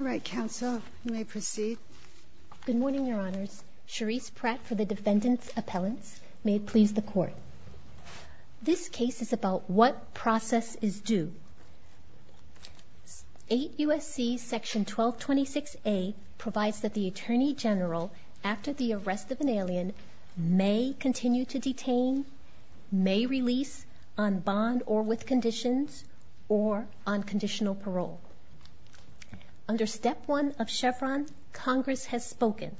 Good morning Your Honors, Cherise Pratt for the Defendant's Appellants. May it please the Court. This case is about what process is due. 8 U.S.C. § 1226A provides that the Attorney General, after the arrest of an alien, may continue to detain, may release, on bond or with conditions, or on conditional parole. Under Step 1 of Chevron, Congress has spoken.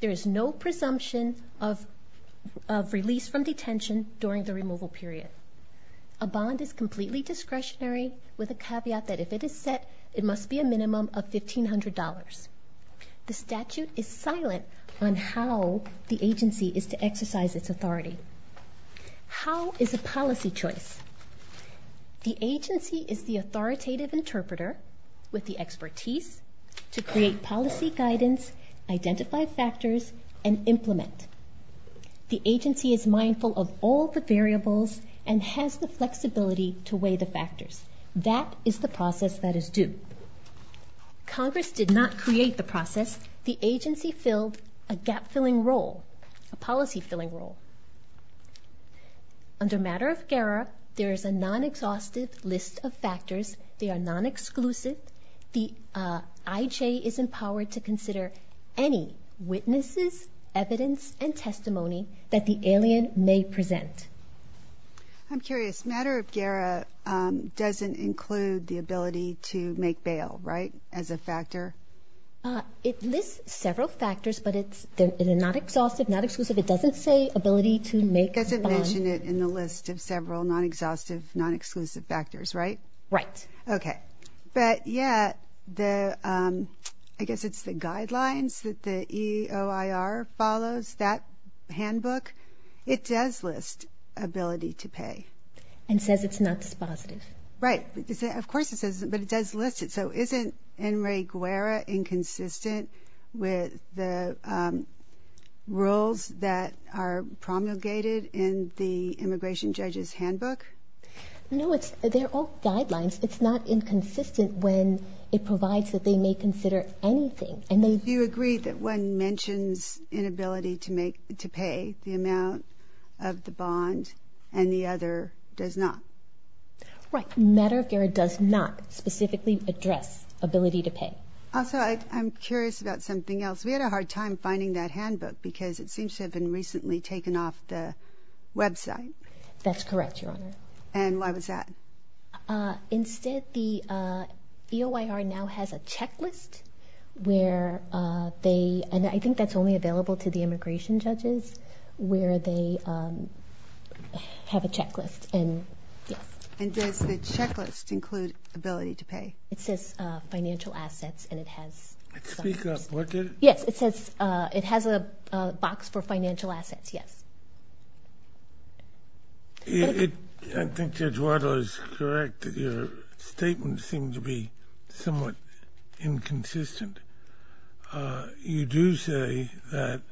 There is no presumption of release from detention during the removal period. A bond is completely discretionary, with a caveat that if it is set, it must be a minimum of $1,500. The statute is silent on how the agency is to exercise its authority. How is a policy choice? The agency is the authoritative interpreter with the expertise to create policy guidance, identify factors, and implement. The agency is mindful of all the variables and has the flexibility to weigh the factors. That is the process that is due. Congress did not create the process. The agency filled a gap-filling role, a policy-filling role. Under Matter of GERA, there is a non-exhaustive list of factors. They are non-exclusive. The IJ is empowered to consider any witnesses, evidence, and testimony that the alien may present. I'm curious. Matter of GERA doesn't include the ability to make bail, right, as a factor? It lists several factors, but it's the non-exhaustive, non-exclusive, it doesn't say ability to make a bond. It doesn't mention it in the list of several non-exhaustive, non-exclusive factors, right? Right. Okay. But, yeah, I guess it's the guidelines that the EOIR follows, that handbook. It does list ability to pay. And says it's not dispositive. Right. Of course it says it's not, but it does list it. So isn't NREGUERA inconsistent with the rules that are promulgated in the immigration judge's handbook? No, they're all guidelines. It's not inconsistent when it provides that they may consider anything. Do you agree that one mentions inability to pay the amount of the bond and the other does not? Right. Matter of GERA does not specifically address ability to pay. Also, I'm curious about something else. We had a hard time finding that handbook because it seems to have been recently taken off the website. That's correct, Your Honor. And why was that? Instead, the EOIR now has a checklist where they, and I think that's only available to the immigration judges, where they have a checklist. And yes. And does the checklist include ability to pay? It says financial assets, and it has some. Speak up. What did it? Yes, it says it has a box for financial assets. Yes. I think Judge Waddell is correct that your statements seem to be somewhat inconsistent. But you do say that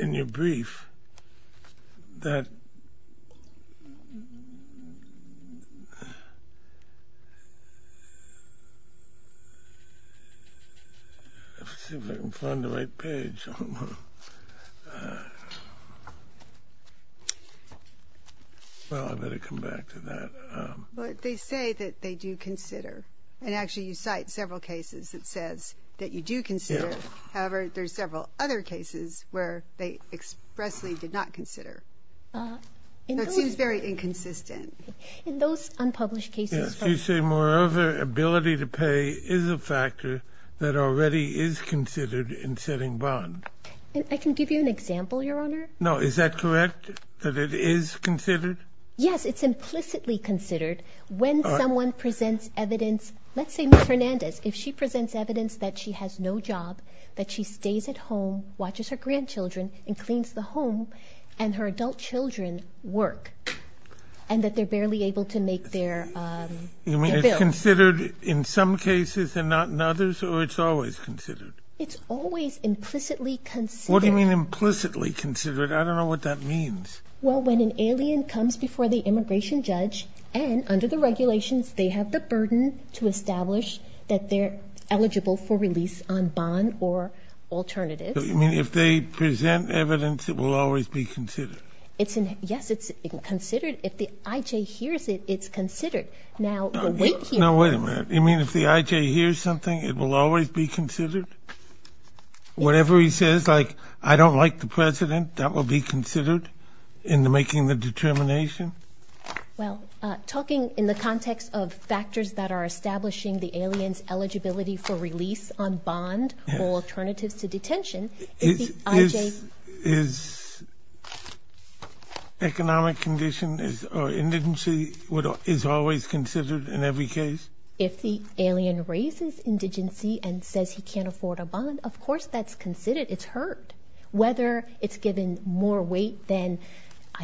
in your brief that, let's see if I can find the right page, well, I'd better come back to that. Well, they say that they do consider, and actually you cite several cases that says that you do consider. However, there's several other cases where they expressly did not consider. It seems very inconsistent. In those unpublished cases from- Yes, you say moreover, ability to pay is a factor that already is considered in setting bond. I can give you an example, Your Honor. No, is that correct, that it is considered? Yes, it's implicitly considered. When someone presents evidence, let's say Ms. Hernandez, if she presents evidence that she has no job, that she stays at home, watches her grandchildren, and cleans the home, and her adult children work, and that they're barely able to make their bills. You mean it's considered in some cases and not in others, or it's always considered? It's always implicitly considered. What do you mean implicitly considered? I don't know what that means. Well, when an alien comes before the immigration judge, and under the regulations, they have the burden to establish that they're eligible for release on bond or alternatives. You mean if they present evidence, it will always be considered? Yes, it's considered. If the IJ hears it, it's considered. Now the wait here- No, wait a minute. You mean if the IJ hears something, it will always be considered? Whatever he says, like, I don't like the president, that will be considered in making the determination? Well, talking in the context of factors that are establishing the alien's eligibility for release on bond or alternatives to detention, if the IJ- Is economic condition or indigency always considered in every case? If the alien raises indigency and says he can't afford a bond, of course that's considered. It's heard. Whether it's given more weight than-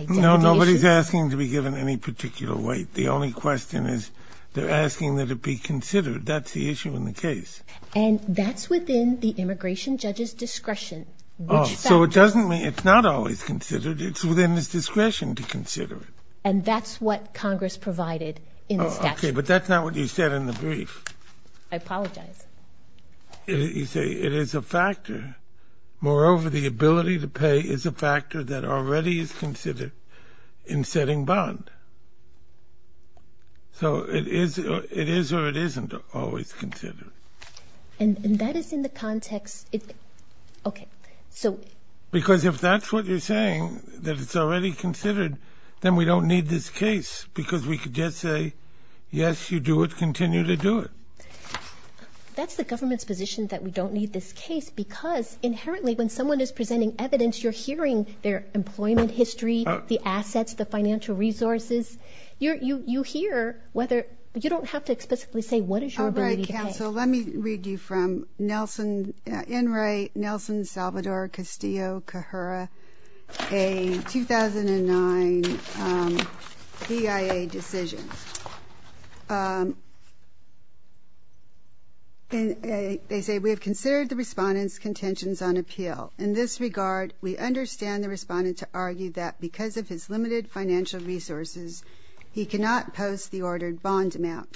No, nobody's asking to be given any particular weight. The only question is they're asking that it be considered. That's the issue in the case. And that's within the immigration judge's discretion. Oh, so it doesn't mean- It's not always considered. It's within his discretion to consider it. And that's what Congress provided in the statute. Okay, but that's not what you said in the brief. I apologize. You say it is a factor. Moreover, the ability to pay is a factor that already is considered in setting bond. So it is or it isn't always considered. And that is in the context- Okay, so- Because if that's what you're saying, that it's already considered, then we don't need this case because we could just say, yes, you do it, continue to do it. That's the government's position that we don't need this case because inherently when someone is presenting evidence, you're hearing their employment history, the assets, the financial resources. You hear whether- You don't have to explicitly say what is your ability to pay. Okay, so let me read you from Nelson Salvador Castillo-Cajurra, a 2009 PIA decision. They say, we have considered the Respondent's contentions on appeal. In this regard, we understand the Respondent to argue that because of his limited financial resources, he cannot post the ordered bond amount.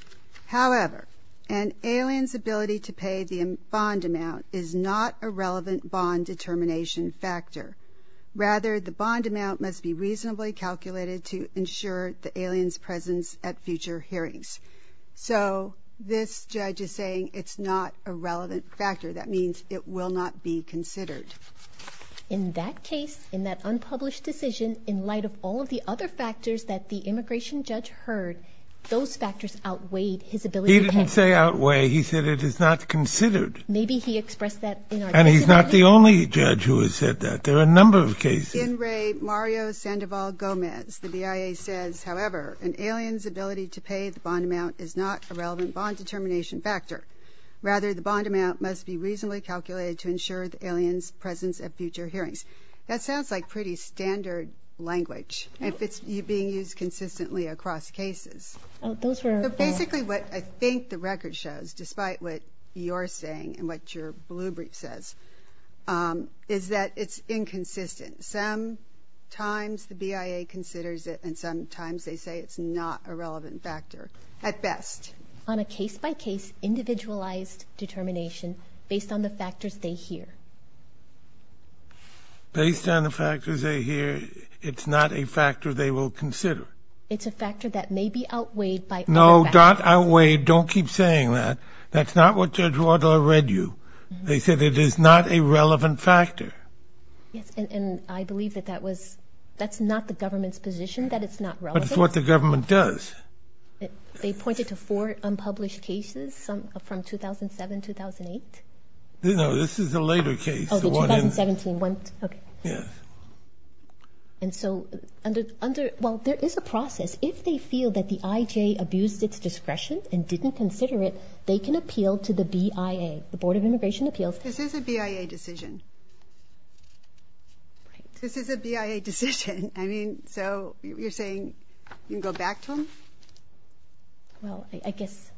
However, an alien's ability to pay the bond amount is not a relevant bond determination factor. Rather, the bond amount must be reasonably calculated to ensure the alien's presence at future hearings. So this judge is saying it's not a relevant factor. That means it will not be considered. In that case, in that unpublished decision, in light of all of the other factors that the immigration judge heard, those factors outweighed his ability to pay- He didn't say outweigh. He said it is not considered. Maybe he expressed that in our- And he's not the only judge who has said that. There are a number of cases. In Ray Mario Sandoval Gomez, the BIA says, however, an alien's ability to pay the bond amount is not a relevant bond determination factor. Rather, the bond amount must be reasonably calculated to ensure the alien's presence at future hearings. That sounds like pretty standard language, if it's being used consistently across cases. Oh, those were- But basically what I think the record shows, despite what you're saying and what your blue brief says, is that it's inconsistent. Some times the BIA considers it and sometimes they say it's not a relevant factor, at best. On a case-by-case, individualized determination based on the factors they hear. Based on the factors they hear, it's not a factor they will consider. It's a factor that may be outweighed by other factors. No, not outweighed. Don't keep saying that. That's not what Judge Wadler read you. They said it is not a relevant factor. Yes, and I believe that that was- that's not the government's position, that it's not relevant. But it's what the government does. They pointed to four unpublished cases, some from 2007, 2008. No, this is a later case. Oh, the 2017 one. Okay. Yes. And so under- well, there is a process. If they feel that the IJ abused its discretion and didn't consider it, they can appeal to the BIA, the Board of Immigration Appeals. This is a BIA decision. This is a BIA decision. I mean, so you're saying you can go back to them? Well, I guess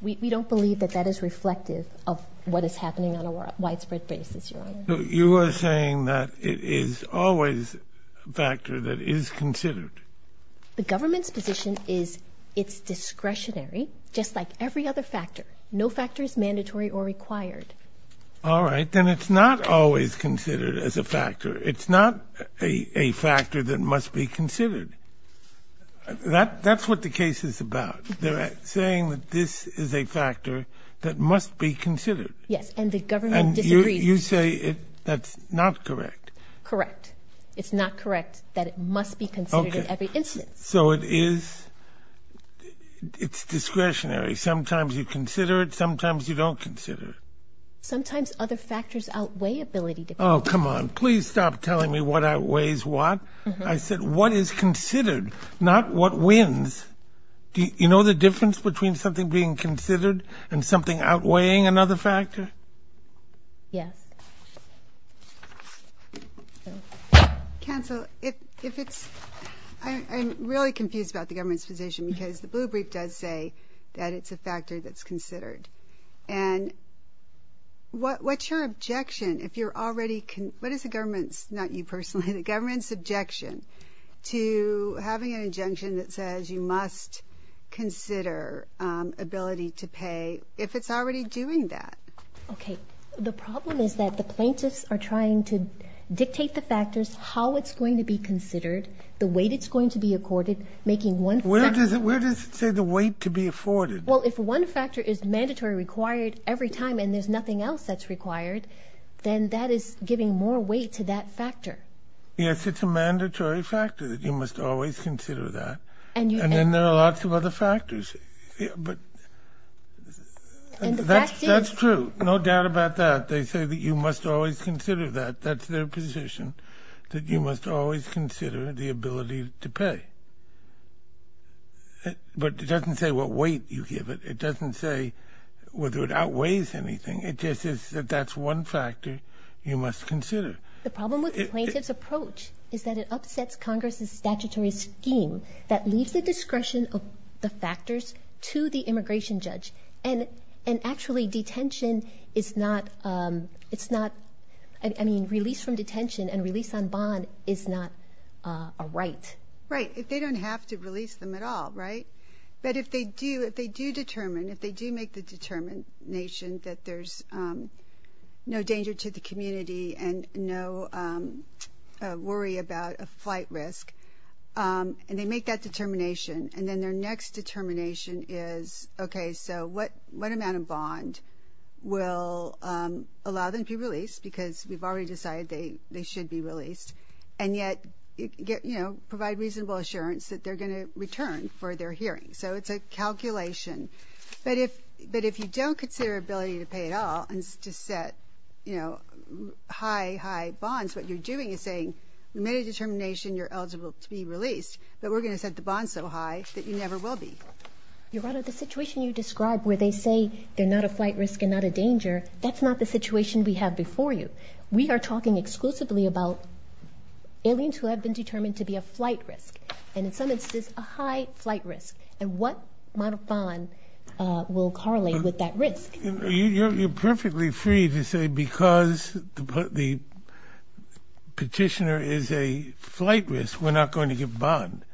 we don't believe that that is reflective of what is happening on a widespread basis, Your Honor. You are saying that it is always a factor that is considered. The government's position is it's discretionary, just like every other factor. No factor is mandatory or required. All right. Then it's not always considered as a factor. It's not a factor that must be considered. That's what the case is about. They're saying that this is a factor that must be considered. Yes, and the government disagrees. And you say that's not correct. Correct. It's not correct that it must be considered in every instance. Okay. So it is discretionary. Sometimes you consider it, sometimes you don't consider it. Sometimes other factors outweigh ability to consider. Oh, come on. Please stop telling me what outweighs what. I said what is considered, not what wins. You know the difference between something being considered and something outweighing another factor? Yes. Counsel, if it's – I'm really confused about the government's position because the blue brief does say that it's a factor that's considered. And what's your objection if you're already – what is the government's, not you personally, the government's objection to having an injunction that says you must consider ability to pay if it's already doing that? Okay. The problem is that the plaintiffs are trying to dictate the factors, how it's going to be considered, the weight it's going to be accorded, making one factor. Where does it say the weight to be afforded? Well, if one factor is mandatory required every time and there's nothing else that's required, then that is giving more weight to that factor. Yes, it's a mandatory factor that you must always consider that. And then there are lots of other factors. That's true. No doubt about that. They say that you must always consider that. That's their position, that you must always consider the ability to pay. But it doesn't say what weight you give it. It doesn't say whether it outweighs anything. It just is that that's one factor you must consider. The problem with the plaintiff's approach is that it upsets Congress's statutory scheme that leaves the discretion of the factors to the immigration judge. And actually, detention is not – it's not – I mean, release from detention and release on bond is not a right. Right, if they don't have to release them at all, right? But if they do, if they do determine, if they do make the determination that there's no danger to the community and no worry about a flight risk, and they make that determination, and then their next determination is, okay, so what amount of bond will allow them to be released? Because we've already decided they should be released. And yet, you know, provide reasonable assurance that they're going to return for their hearing. So it's a calculation. But if you don't consider ability to pay at all and just set, you know, high, high bonds, what you're doing is saying you made a determination you're eligible to be released, but we're going to set the bond so high that you never will be. Your Honor, the situation you described where they say they're not a flight risk and not a danger, that's not the situation we have before you. We are talking exclusively about aliens who have been determined to be a flight risk, and in some instances a high flight risk. And what amount of bond will correlate with that risk? You're perfectly free to say because the petitioner is a flight risk, we're not going to give bond.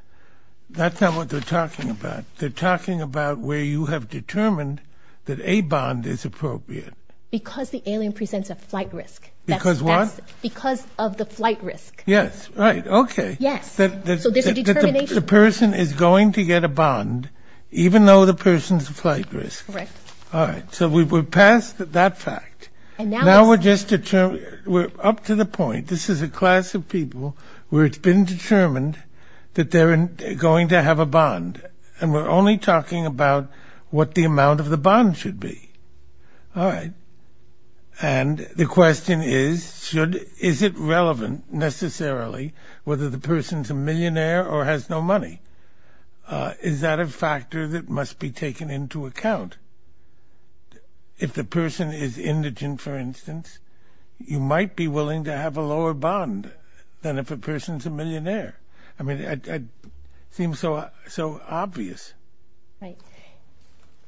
That's not what they're talking about. They're talking about where you have determined that a bond is appropriate. Because the alien presents a flight risk. Because what? Because of the flight risk. Yes, right, okay. Yes. So there's a determination. The person is going to get a bond even though the person's a flight risk. Correct. All right. So we're past that fact. Now we're just up to the point. This is a class of people where it's been determined that they're going to have a bond, and we're only talking about what the amount of the bond should be. All right. And the question is, is it relevant necessarily whether the person's a millionaire or has no money? Is that a factor that must be taken into account? If the person is indigent, for instance, you might be willing to have a lower bond than if a person's a millionaire. I mean, it seems so obvious. Right.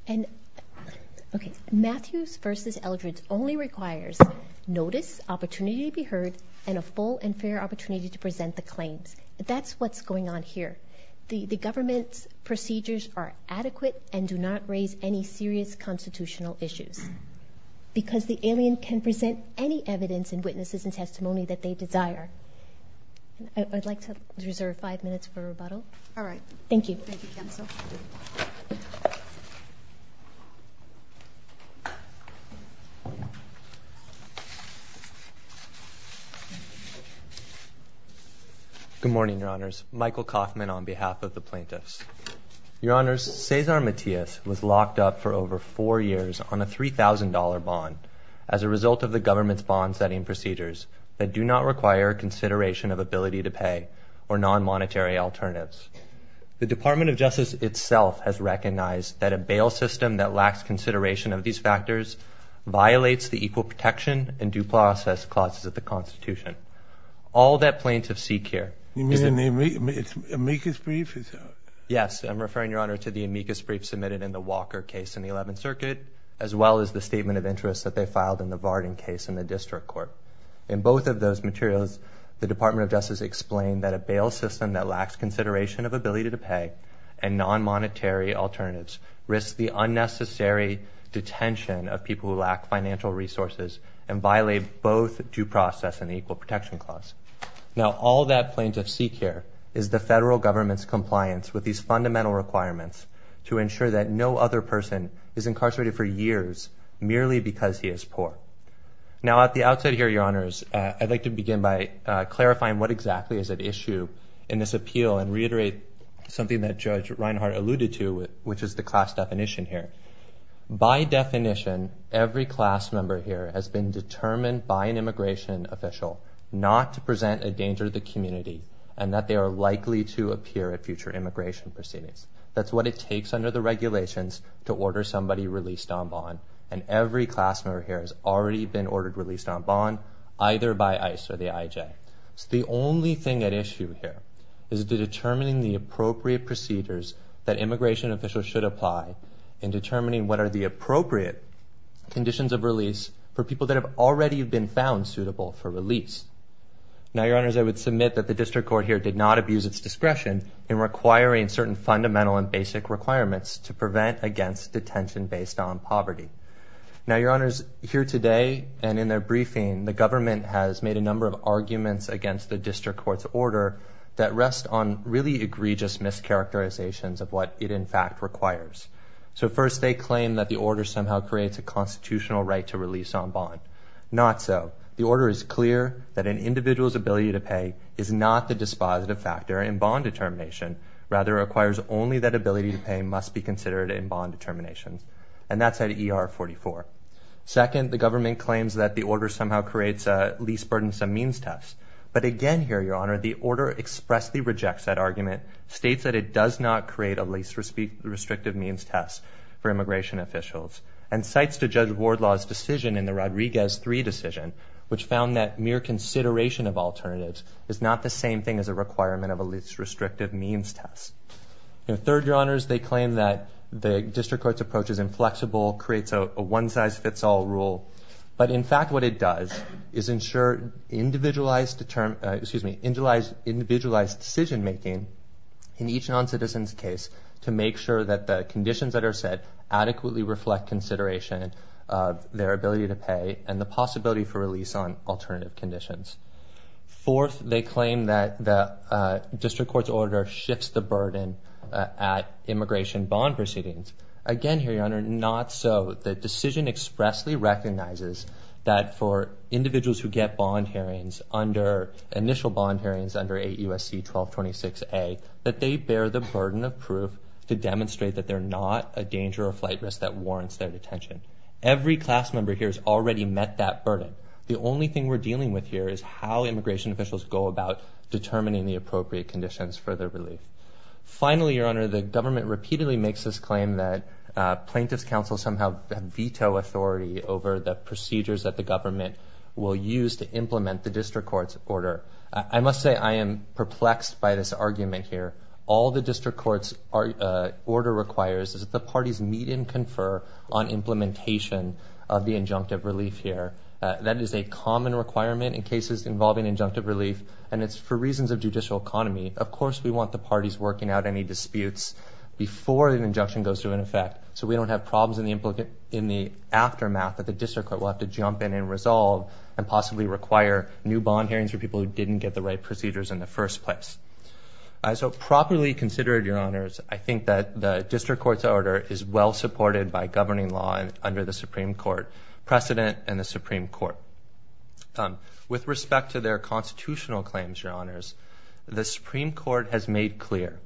And, okay, Matthews v. Eldredge only requires notice, opportunity to be heard, and a full and fair opportunity to present the claims. That's what's going on here. The government's procedures are adequate and do not raise any serious constitutional issues because the alien can present any evidence and witnesses and testimony that they desire. I'd like to reserve five minutes for rebuttal. All right. Thank you. Thank you, counsel. Good morning, Your Honors. Michael Kaufman on behalf of the plaintiffs. Your Honors, Cesar Matias was locked up for over four years on a $3,000 bond as a result of the government's bond-setting procedures that do not require consideration of ability to pay or non-monetary alternatives. The Department of Justice itself has recognized that a bail system that lacks consideration of these factors violates the equal protection and due process clauses of the Constitution. All that plaintiffs seek here is the... You mean the amicus brief? Yes. I'm referring, Your Honor, to the amicus brief submitted in the Walker case in the 11th Circuit as well as the statement of interest that they filed in the Varden case in the district court. In both of those materials, the Department of Justice explained that a bail system that lacks consideration of ability to pay and non-monetary alternatives risks the unnecessary detention of people who lack financial resources and violate both due process and the equal protection clause. Now, all that plaintiffs seek here is the federal government's compliance with these fundamental requirements to ensure that no other person is incarcerated for years merely because he is poor. Now, at the outset here, Your Honors, I'd like to begin by clarifying what exactly is at issue in this appeal and reiterate something that Judge Reinhart alluded to, which is the class definition here. By definition, every class member here has been determined by an immigration official not to present a danger to the community and that they are likely to appear at future immigration proceedings. That's what it takes under the regulations to order somebody released on bond. And every class member here has already been ordered released on bond. Either by ICE or the IJ. So the only thing at issue here is determining the appropriate procedures that immigration officials should apply in determining what are the appropriate conditions of release for people that have already been found suitable for release. Now, Your Honors, I would submit that the District Court here did not abuse its discretion in requiring certain fundamental and basic requirements to prevent against detention based on poverty. Now, Your Honors, here today and in their briefing, the government has made a number of arguments against the District Court's order that rest on really egregious mischaracterizations of what it in fact requires. So first, they claim that the order somehow creates a constitutional right to release on bond. Not so. The order is clear that an individual's ability to pay is not the dispositive factor in bond determination. Rather, it requires only that ability to pay must be considered in bond determination. And that's at ER 44. Second, the government claims that the order somehow creates a least burdensome means test. But again here, Your Honor, the order expressly rejects that argument, states that it does not create a least restrictive means test for immigration officials, and cites the Judge Wardlaw's decision in the Rodriguez 3 decision, which found that mere consideration of alternatives is not the same thing as a requirement of a least restrictive means test. Third, Your Honors, they claim that the District Court's approach is inflexible, creates a one-size-fits-all rule. But in fact what it does is ensure individualized decision-making in each non-citizen's case to make sure that the conditions that are set adequately reflect consideration of their ability to pay and the possibility for release on alternative conditions. Fourth, they claim that the District Court's order shifts the burden at immigration bond proceedings. Again here, Your Honor, not so. The decision expressly recognizes that for individuals who get bond hearings under initial bond hearings under 8 U.S.C. 1226A, that they bear the burden of proof to demonstrate that they're not a danger or flight risk that warrants their detention. Every class member here has already met that burden. The only thing we're dealing with here is how immigration officials go about determining the appropriate conditions for their relief. Finally, Your Honor, the government repeatedly makes this claim that plaintiff's counsel somehow veto authority over the procedures that the government will use to implement the District Court's order. I must say I am perplexed by this argument here. All the District Court's order requires is that the parties meet and confer on implementation of the injunctive relief here. That is a common requirement in cases involving injunctive relief, and it's for reasons of judicial economy. Of course we want the parties working out any disputes before an injunction goes to an effect so we don't have problems in the aftermath that the District Court will have to jump in and resolve and possibly require new bond hearings for people who didn't get the right procedures in the first place. So properly considered, Your Honors, I think that the District Court's order is well supported by governing law under the Supreme Court precedent and the Supreme Court. With respect to their constitutional claims, Your Honors, the Supreme Court has made clear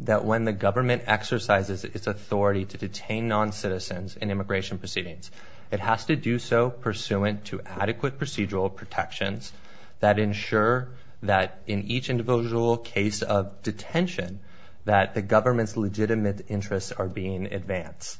that when the government exercises its authority to detain noncitizens in immigration proceedings, it has to do so pursuant to adequate procedural protections that ensure that in each individual case of detention that the government's legitimate interests are being advanced.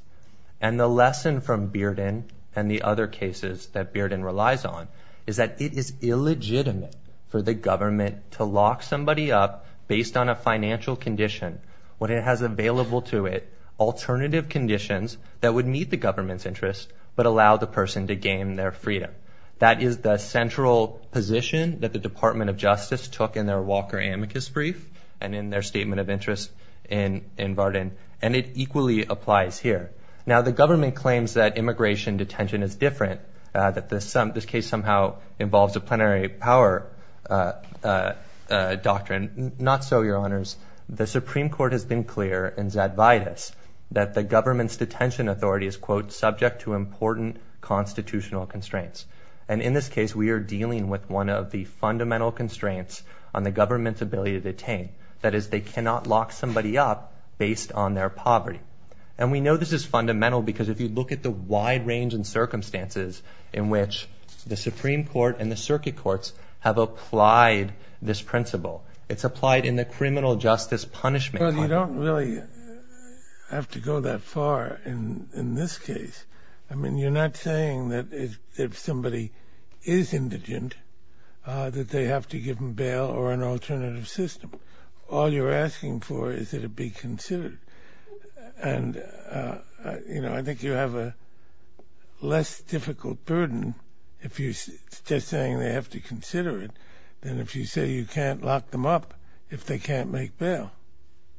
And the lesson from Bearden and the other cases that Bearden relies on is that it is illegitimate for the government to lock somebody up based on a financial condition when it has available to it alternative conditions that would meet the government's interests but allow the person to gain their freedom. That is the central position that the Department of Justice took in their Walker amicus brief and in their statement of interest in Bearden, and it equally applies here. Now, the government claims that immigration detention is different, that this case somehow involves a plenary power doctrine. Not so, Your Honors. The Supreme Court has been clear in Zadvaitis that the government's detention authority is, quote, subject to important constitutional constraints. And in this case, we are dealing with one of the fundamental constraints on the government's ability to detain. That is, they cannot lock somebody up based on their poverty. And we know this is fundamental because if you look at the wide range of circumstances in which the Supreme Court and the circuit courts have applied this principle, it's applied in the criminal justice punishment context. Well, you don't really have to go that far in this case. I mean, you're not saying that if somebody is indigent that they have to give them bail or an alternative system. All you're asking for is that it be considered. And, you know, I think you have a less difficult burden if you're just saying they have to consider it than if you say you can't lock them up if they can't make bail.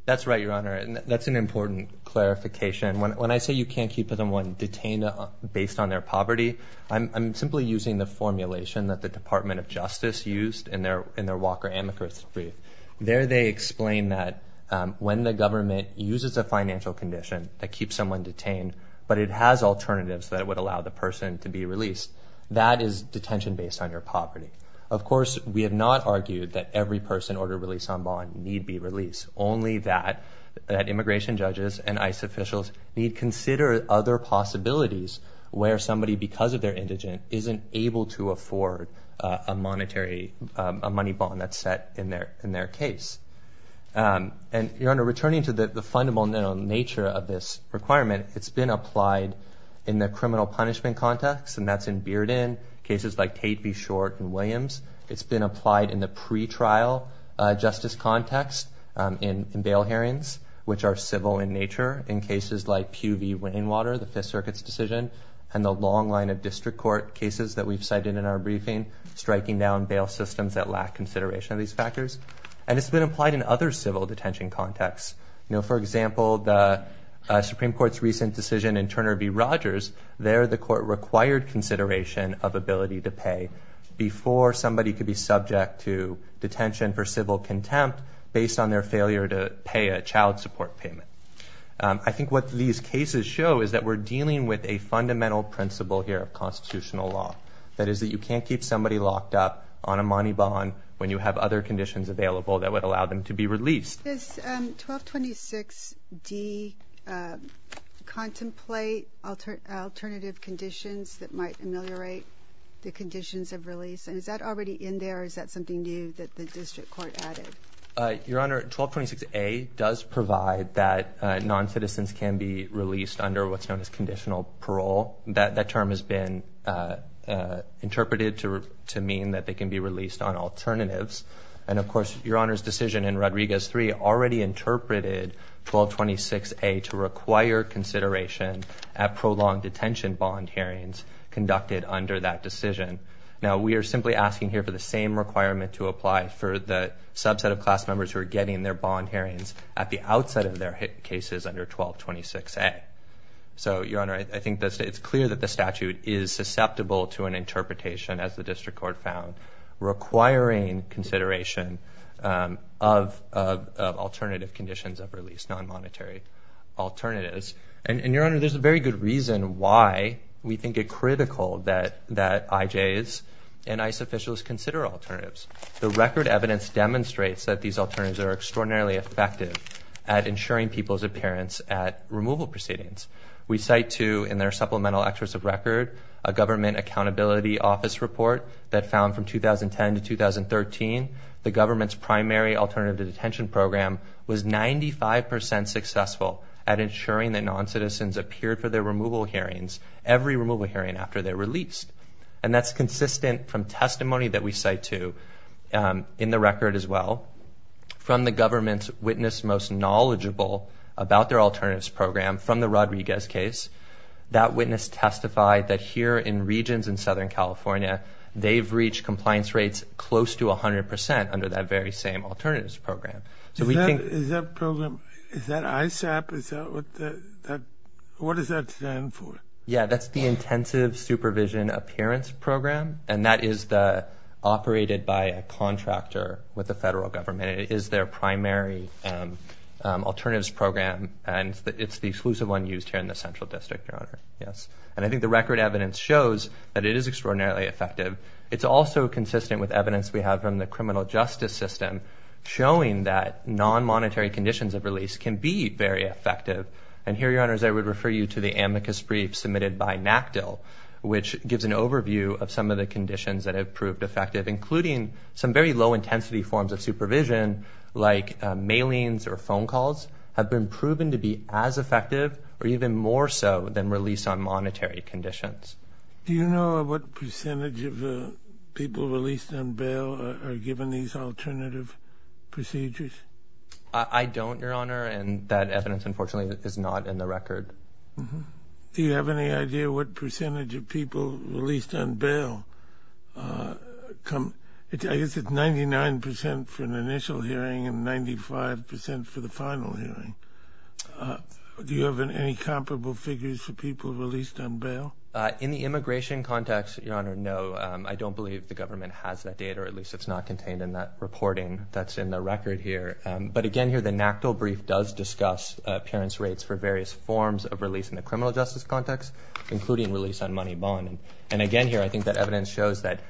That's right, Your Honor, and that's an important clarification. When I say you can't keep someone detained based on their poverty, I'm simply using the formulation that the Department of Justice used in their Walker-Amacris brief. There they explain that when the government uses a financial condition that keeps someone detained but it has alternatives that would allow the person to be released, that is detention based on your poverty. Of course, we have not argued that every person ordered release on bond need be released, only that immigration judges and ICE officials need consider other possibilities where somebody, because of their indigent, isn't able to afford a monetary money bond that's set in their case. And, Your Honor, returning to the fundamental nature of this requirement, it's been applied in the criminal punishment context, and that's in Bearden, cases like Tate v. Short and Williams. It's been applied in the pretrial justice context in bail hearings, which are civil in nature, in cases like Pew v. Rainwater, the Fifth Circuit's decision, and the long line of district court cases that we've cited in our briefing, striking down bail systems that lack consideration of these factors. And it's been applied in other civil detention contexts. For example, the Supreme Court's recent decision in Turner v. Rogers, there the court required consideration of ability to pay before somebody could be subject to detention for civil contempt based on their failure to pay a child support payment. I think what these cases show is that we're dealing with a fundamental principle here of constitutional law, that is that you can't keep somebody locked up on a money bond when you have other conditions available that would allow them to be released. Does 1226D contemplate alternative conditions that might ameliorate the conditions of release? And is that already in there, or is that something new that the district court added? Your Honor, 1226A does provide that non-citizens can be released under what's known as conditional parole. That term has been interpreted to mean that they can be released on alternatives. And of course, Your Honor's decision in Rodriguez III already interpreted 1226A to require consideration at prolonged detention bond hearings conducted under that decision. Now, we are simply asking here for the same requirement to apply for the subset of class members who are getting their bond hearings at the outset of their cases under 1226A. So, Your Honor, I think it's clear that the statute is susceptible to an interpretation, as the district court found, requiring consideration of alternative conditions of release, non-monetary alternatives. And, Your Honor, there's a very good reason why we think it critical that IJs and ICE officials consider alternatives. The record evidence demonstrates that these alternatives are extraordinarily effective at ensuring people's appearance at removal proceedings. We cite, too, in their supplemental excerpts of record, a government accountability office report that found from 2010 to 2013, the government's primary alternative detention program was 95% successful at ensuring that non-citizens appeared for their removal hearings every removal hearing after they were released. And that's consistent from testimony that we cite, too, in the record as well, from the government's witness most knowledgeable about their alternatives program from the Rodriguez case. That witness testified that here in regions in Southern California, they've reached compliance rates close to 100% under that very same alternatives program. Is that program, is that ISAP? What does that stand for? Yeah, that's the Intensive Supervision Appearance Program, and that is operated by a contractor with the federal government. It is their primary alternatives program, and it's the exclusive one used here in the Central District, Your Honor. And I think the record evidence shows that it is extraordinarily effective. It's also consistent with evidence we have from the criminal justice system showing that non-monetary conditions of release can be very effective. And here, Your Honors, I would refer you to the amicus brief submitted by NACDL, which gives an overview of some of the conditions that have proved effective, including some very low-intensity forms of supervision like mailings or phone calls have been proven to be as effective or even more so than release on monetary conditions. Do you know what percentage of the people released on bail are given these alternative procedures? I don't, Your Honor, and that evidence, unfortunately, is not in the record. Do you have any idea what percentage of people released on bail come? I guess it's 99% for an initial hearing and 95% for the final hearing. Do you have any comparable figures for people released on bail? In the immigration context, Your Honor, no. I don't believe the government has that data, or at least it's not contained in that reporting that's in the record here. But again here, the NACDL brief does discuss appearance rates for various forms of release in the criminal justice context, including release on money bond. And again here, I think that evidence shows that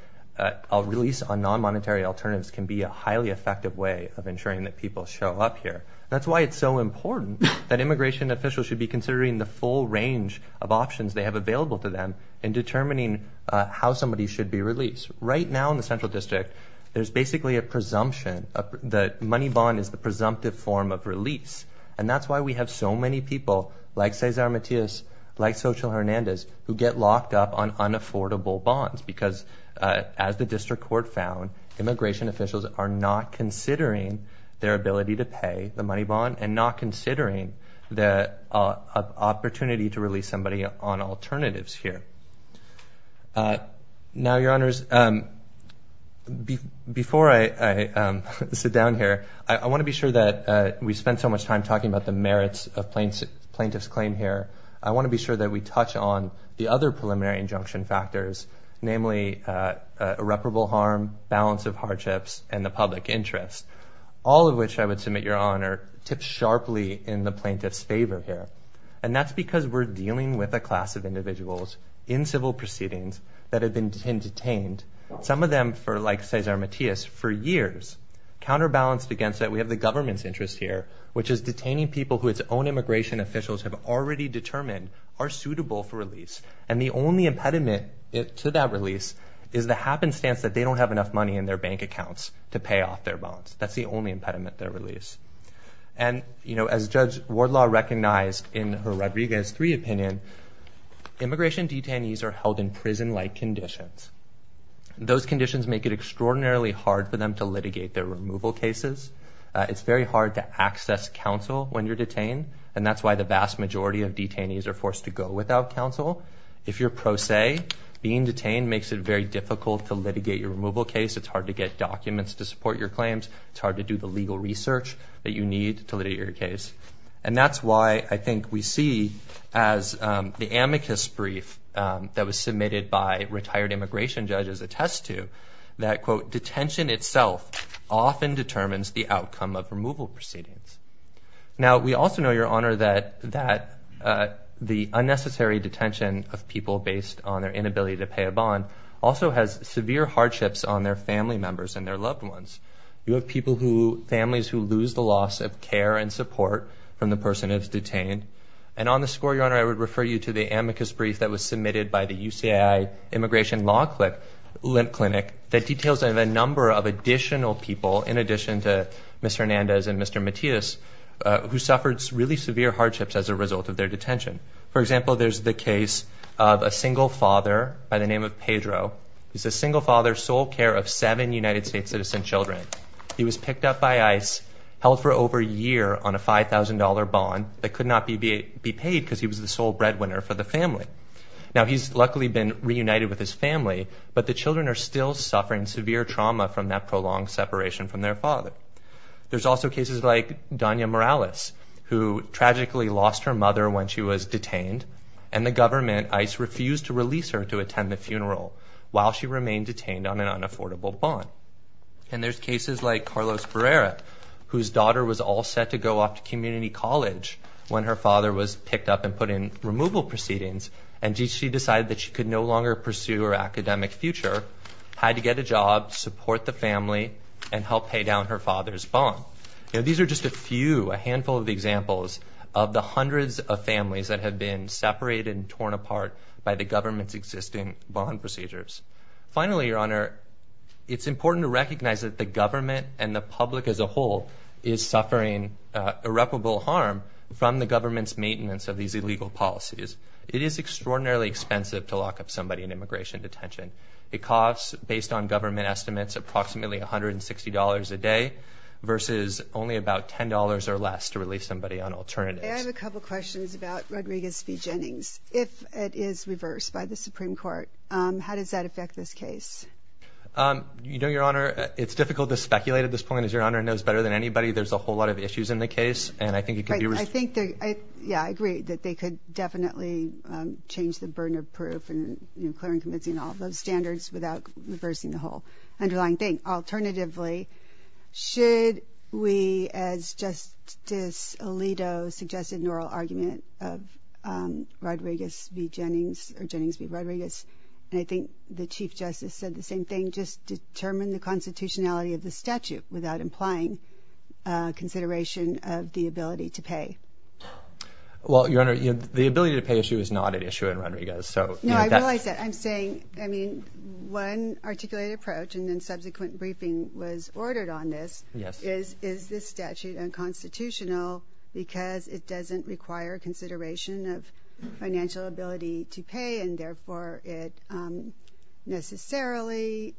a release on non-monetary alternatives can be a highly effective way of ensuring that people show up here. That's why it's so important that immigration officials should be considering the full range of options they have available to them in determining how somebody should be released. Right now in the Central District, there's basically a presumption that money bond is the presumptive form of release. And that's why we have so many people like Cesar Matias, like Xochitl Hernandez, who get locked up on unaffordable bonds because, as the district court found, immigration officials are not considering their ability to pay the money bond and not considering the opportunity to release somebody on alternatives here. Now, Your Honors, before I sit down here, I want to be sure that we spend so much time talking about the merits of plaintiff's claim here. I want to be sure that we touch on the other preliminary injunction factors, namely irreparable harm, balance of hardships, and the public interest, all of which I would submit, Your Honor, tips sharply in the plaintiff's favor here. And that's because we're dealing with a class of individuals in civil proceedings that have been detained, some of them for, like Cesar Matias, for years, counterbalanced against that we have the government's interest here, which is detaining people who its own immigration officials have already determined are suitable for release. And the only impediment to that release is the happenstance that they don't have enough money in their bank accounts to pay off their bonds. That's the only impediment to their release. And, you know, as Judge Wardlaw recognized in her Rodriguez III opinion, immigration detainees are held in prison-like conditions. Those conditions make it extraordinarily hard for them to litigate their removal cases. It's very hard to access counsel when you're detained, and that's why the vast majority of detainees are forced to go without counsel. If you're pro se, being detained makes it very difficult to litigate your removal case. It's hard to get documents to support your claims. It's hard to do the legal research that you need to litigate your case. And that's why I think we see, as the amicus brief that was submitted by retired immigration judges attests to, that, quote, detention itself often determines the outcome of removal proceedings. Now, we also know, Your Honor, that the unnecessary detention of people based on their inability to pay a bond also has severe hardships on their family members and their loved ones. You have families who lose the loss of care and support from the person that's detained. And on the score, Your Honor, I would refer you to the amicus brief that was submitted by the UCI Immigration Law Clinic that details a number of additional people, in addition to Mr. Hernandez and Mr. Matias, who suffered really severe hardships as a result of their detention. For example, there's the case of a single father by the name of Pedro. He's a single father, sole care of seven United States citizen children. He was picked up by ICE, held for over a year on a $5,000 bond that could not be paid because he was the sole breadwinner for the family. Now, he's luckily been reunited with his family, but the children are still suffering severe trauma from that prolonged separation from their father. There's also cases like Donya Morales, who tragically lost her mother when she was detained, and the government, ICE, refused to release her to attend the funeral while she remained detained on an unaffordable bond. And there's cases like Carlos Barrera, whose daughter was all set to go off to community college when her father was picked up and put in removal proceedings, and she decided that she could no longer pursue her academic future, had to get a job, support the family, and help pay down her father's bond. Now, these are just a few, a handful of examples of the hundreds of families that have been separated and torn apart by the government's existing bond procedures. Finally, Your Honor, it's important to recognize that the government and the public as a whole is suffering irreparable harm from the government's maintenance of these illegal policies. It is extraordinarily expensive to lock up somebody in immigration detention. It costs, based on government estimates, approximately $160 a day versus only about $10 or less to release somebody on alternatives. I have a couple questions about Rodriguez v. Jennings. If it is reversed by the Supreme Court, how does that affect this case? You know, Your Honor, it's difficult to speculate at this point, as Your Honor knows better than anybody. There's a whole lot of issues in the case, and I think it could be— Yeah, I agree that they could definitely change the burden of proof and clear and convincing all of those standards without reversing the whole underlying thing. Alternatively, should we, as Justice Alito suggested in oral argument of Rodriguez v. Jennings, or Jennings v. Rodriguez, and I think the Chief Justice said the same thing, just determine the constitutionality of the statute without implying consideration of the ability to pay? Well, Your Honor, the ability to pay issue is not an issue in Rodriguez. No, I realize that. I'm saying, I mean, one articulated approach, and then subsequent briefing was ordered on this, is this statute unconstitutional because it doesn't require consideration of financial ability to pay and therefore it necessarily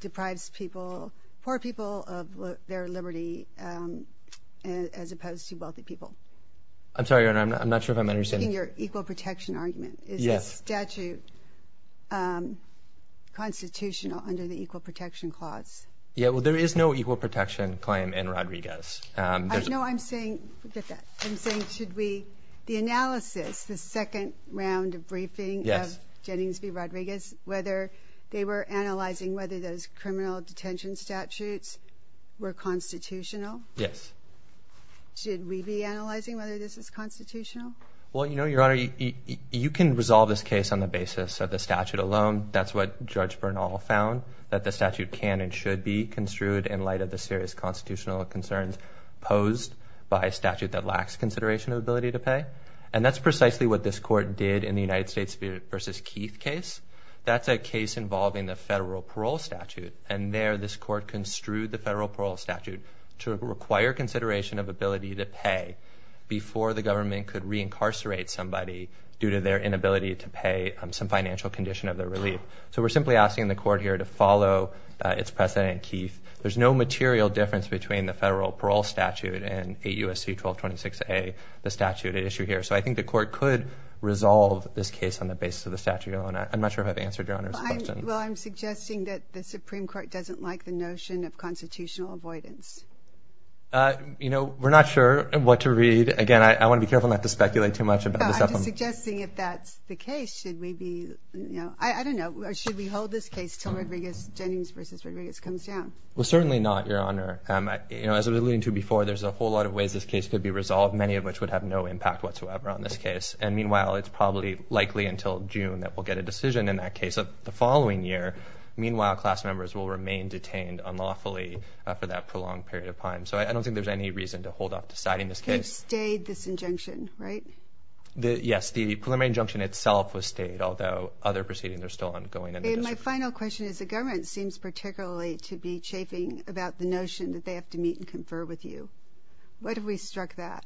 deprives people, poor people, of their liberty as opposed to wealthy people? I'm sorry, Your Honor, I'm not sure if I'm understanding— Taking your equal protection argument. Yes. Is the statute constitutional under the equal protection clause? Yeah, well, there is no equal protection claim in Rodriguez. No, I'm saying, forget that, I'm saying should we, the analysis, the second round of briefing of Jennings v. Rodriguez, whether they were analyzing whether those criminal detention statutes were constitutional? Yes. Should we be analyzing whether this is constitutional? Well, you know, Your Honor, you can resolve this case on the basis of the statute alone. That's what Judge Bernal found, that the statute can and should be construed in light of the serious constitutional concerns posed by a statute that lacks consideration of ability to pay. And that's precisely what this court did in the United States v. Keith case. That's a case involving the federal parole statute. And there this court construed the federal parole statute to require consideration of ability to pay before the government could reincarcerate somebody due to their inability to pay some financial condition of their relief. So we're simply asking the court here to follow its precedent in Keith. There's no material difference between the federal parole statute and 8 U.S.C. 1226a, the statute at issue here. So I think the court could resolve this case on the basis of the statute alone. I'm not sure if I've answered Your Honor's question. Well, I'm suggesting that the Supreme Court doesn't like the notion of constitutional avoidance. You know, we're not sure what to read. Again, I want to be careful not to speculate too much about this. I'm just suggesting if that's the case, should we be, you know, I don't know. Should we hold this case till Rodriguez, Jennings v. Rodriguez comes down? Well, certainly not, Your Honor. You know, as I was alluding to before, there's a whole lot of ways this case could be resolved, many of which would have no impact whatsoever on this case. And meanwhile, it's probably likely until June that we'll get a decision in that case of the following year. Meanwhile, class members will remain detained unlawfully for that prolonged period of time. So I don't think there's any reason to hold off deciding this case. They've stayed this injunction, right? Yes, the preliminary injunction itself was stayed, although other proceedings are still ongoing. And my final question is the government seems particularly to be chafing about the notion that they have to meet and confer with you. What if we struck that?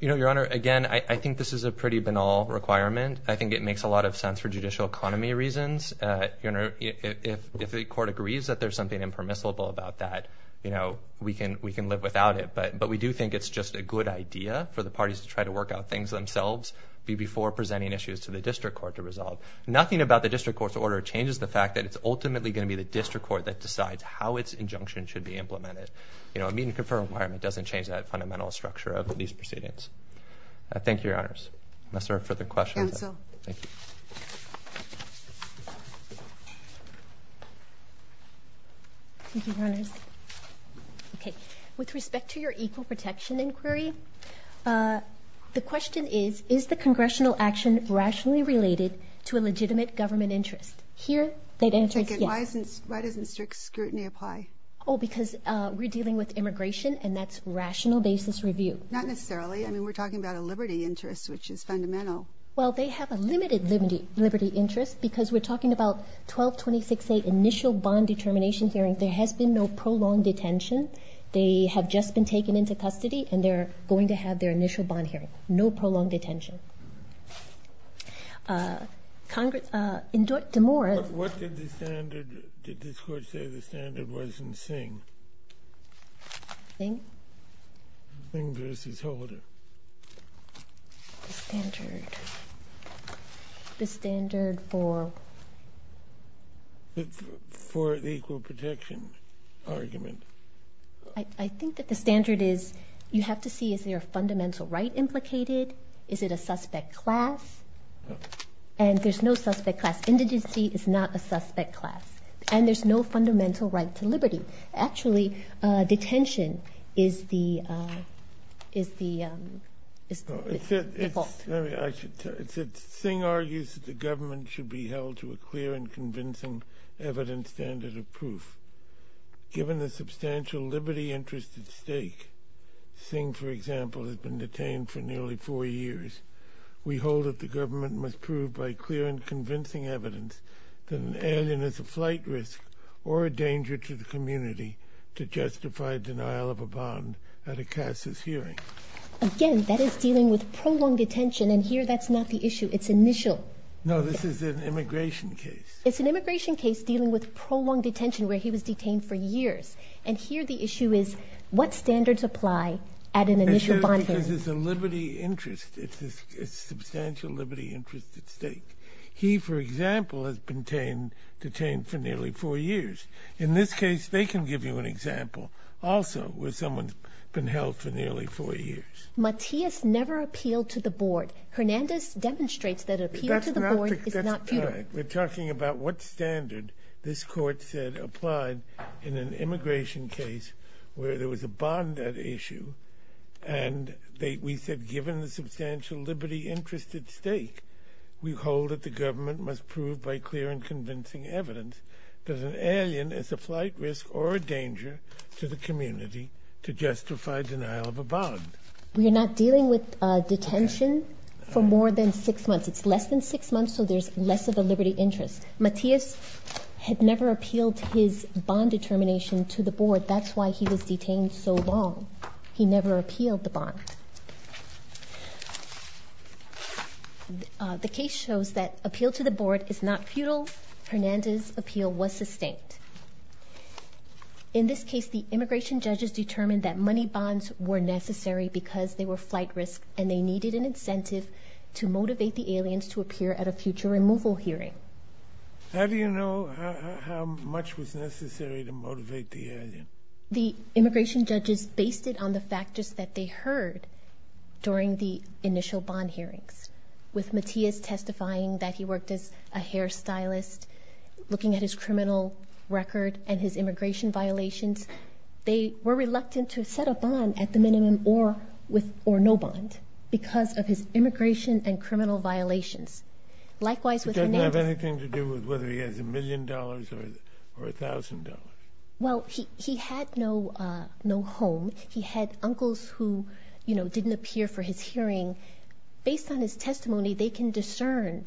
You know, Your Honor, again, I think this is a pretty banal requirement. I think it makes a lot of sense for judicial economy reasons. If the court agrees that there's something impermissible about that, you know, we can live without it. But we do think it's just a good idea for the parties to try to work out things themselves before presenting issues to the district court to resolve. Nothing about the district court's order changes the fact that it's ultimately going to be the district court that decides how its injunction should be implemented. You know, a meet and confer requirement doesn't change that fundamental structure of these proceedings. Thank you, Your Honors. Unless there are further questions. Counsel. Thank you. Thank you, Your Honors. Okay. With respect to your equal protection inquiry, the question is, is the congressional action rationally related to a legitimate government interest? Here, they'd answer yes. Why doesn't strict scrutiny apply? Oh, because we're dealing with immigration, and that's rational basis review. Not necessarily. I mean, we're talking about a liberty interest, which is fundamental. Well, they have a limited liberty interest because we're talking about 1226A, initial bond determination hearing. There has been no prolonged detention. They have just been taken into custody, and they're going to have their initial bond hearing. No prolonged detention. Congress, in DeMora. What did the standard, did this court say the standard was in Singh? Singh? Singh v. Holder. The standard. The standard for? For the equal protection argument. I think that the standard is you have to see is there a fundamental right implicated? Is it a suspect class? And there's no suspect class. Indigency is not a suspect class. And there's no fundamental right to liberty. Actually, detention is the default. I should tell you, Singh argues that the government should be held to a clear and convincing evidence standard of proof. Given the substantial liberty interest at stake, Singh, for example, has been detained for nearly four years. We hold that the government must prove by clear and convincing evidence that an alien is a flight risk or a danger to the community to justify denial of a bond at a CASIS hearing. Again, that is dealing with prolonged detention, and here that's not the issue. It's initial. No, this is an immigration case. It's an immigration case dealing with prolonged detention where he was detained for years. And here the issue is what standards apply at an initial bond hearing. Because it's a liberty interest. It's a substantial liberty interest at stake. He, for example, has been detained for nearly four years. In this case, they can give you an example also where someone's been held for nearly four years. Matias never appealed to the board. Hernandez demonstrates that appeal to the board is not futile. We're talking about what standard this court said applied in an immigration case where there was a bond at issue. And we said given the substantial liberty interest at stake, we hold that the government must prove by clear and convincing evidence that an alien is a flight risk or a danger to the community to justify denial of a bond. We are not dealing with detention for more than six months. It's less than six months, so there's less of a liberty interest. Matias had never appealed his bond determination to the board. That's why he was detained so long. He never appealed the bond. The case shows that appeal to the board is not futile. Hernandez's appeal was sustained. In this case, the immigration judges determined that money bonds were necessary because they were flight risk and they needed an incentive to motivate the aliens to appear at a future removal hearing. How do you know how much was necessary to motivate the alien? The immigration judges based it on the factors that they heard during the initial bond hearings. With Matias testifying that he worked as a hairstylist, looking at his criminal record and his immigration violations, they were reluctant to set a bond at the minimum or no bond because of his immigration and criminal violations. Likewise with Hernandez. It doesn't have anything to do with whether he has a million dollars or a thousand dollars. Well, he had no home. He had uncles who, you know, didn't appear for his hearing. Based on his testimony, they can discern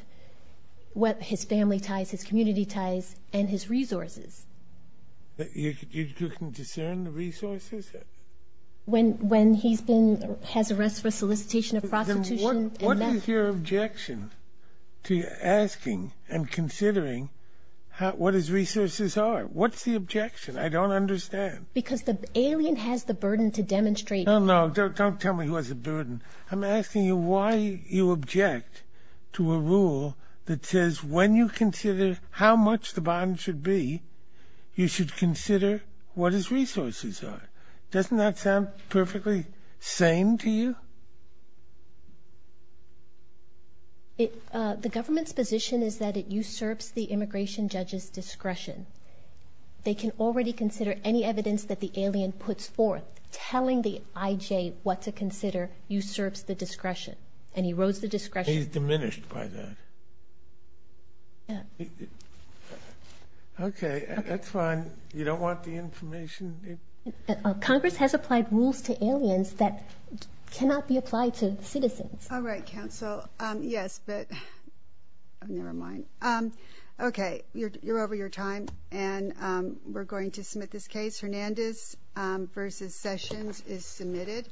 what his family ties, his community ties, and his resources. You can discern the resources? When he's been, has arrests for solicitation of prostitution. What is your objection to asking and considering what his resources are? What's the objection? I don't understand. Because the alien has the burden to demonstrate. No, no, don't tell me he has a burden. I'm asking you why you object to a rule that says when you consider how much the bond should be, you should consider what his resources are. Doesn't that sound perfectly sane to you? The government's position is that it usurps the immigration judge's discretion. They can already consider any evidence that the alien puts forth. Telling the IJ what to consider usurps the discretion and erodes the discretion. He's diminished by that. Yeah. Okay, that's fine. You don't want the information? Congress has applied rules to aliens that cannot be applied to citizens. All right, counsel. Yes, but never mind. Okay, you're over your time, and we're going to submit this case. Hernandez v. Sessions is submitted.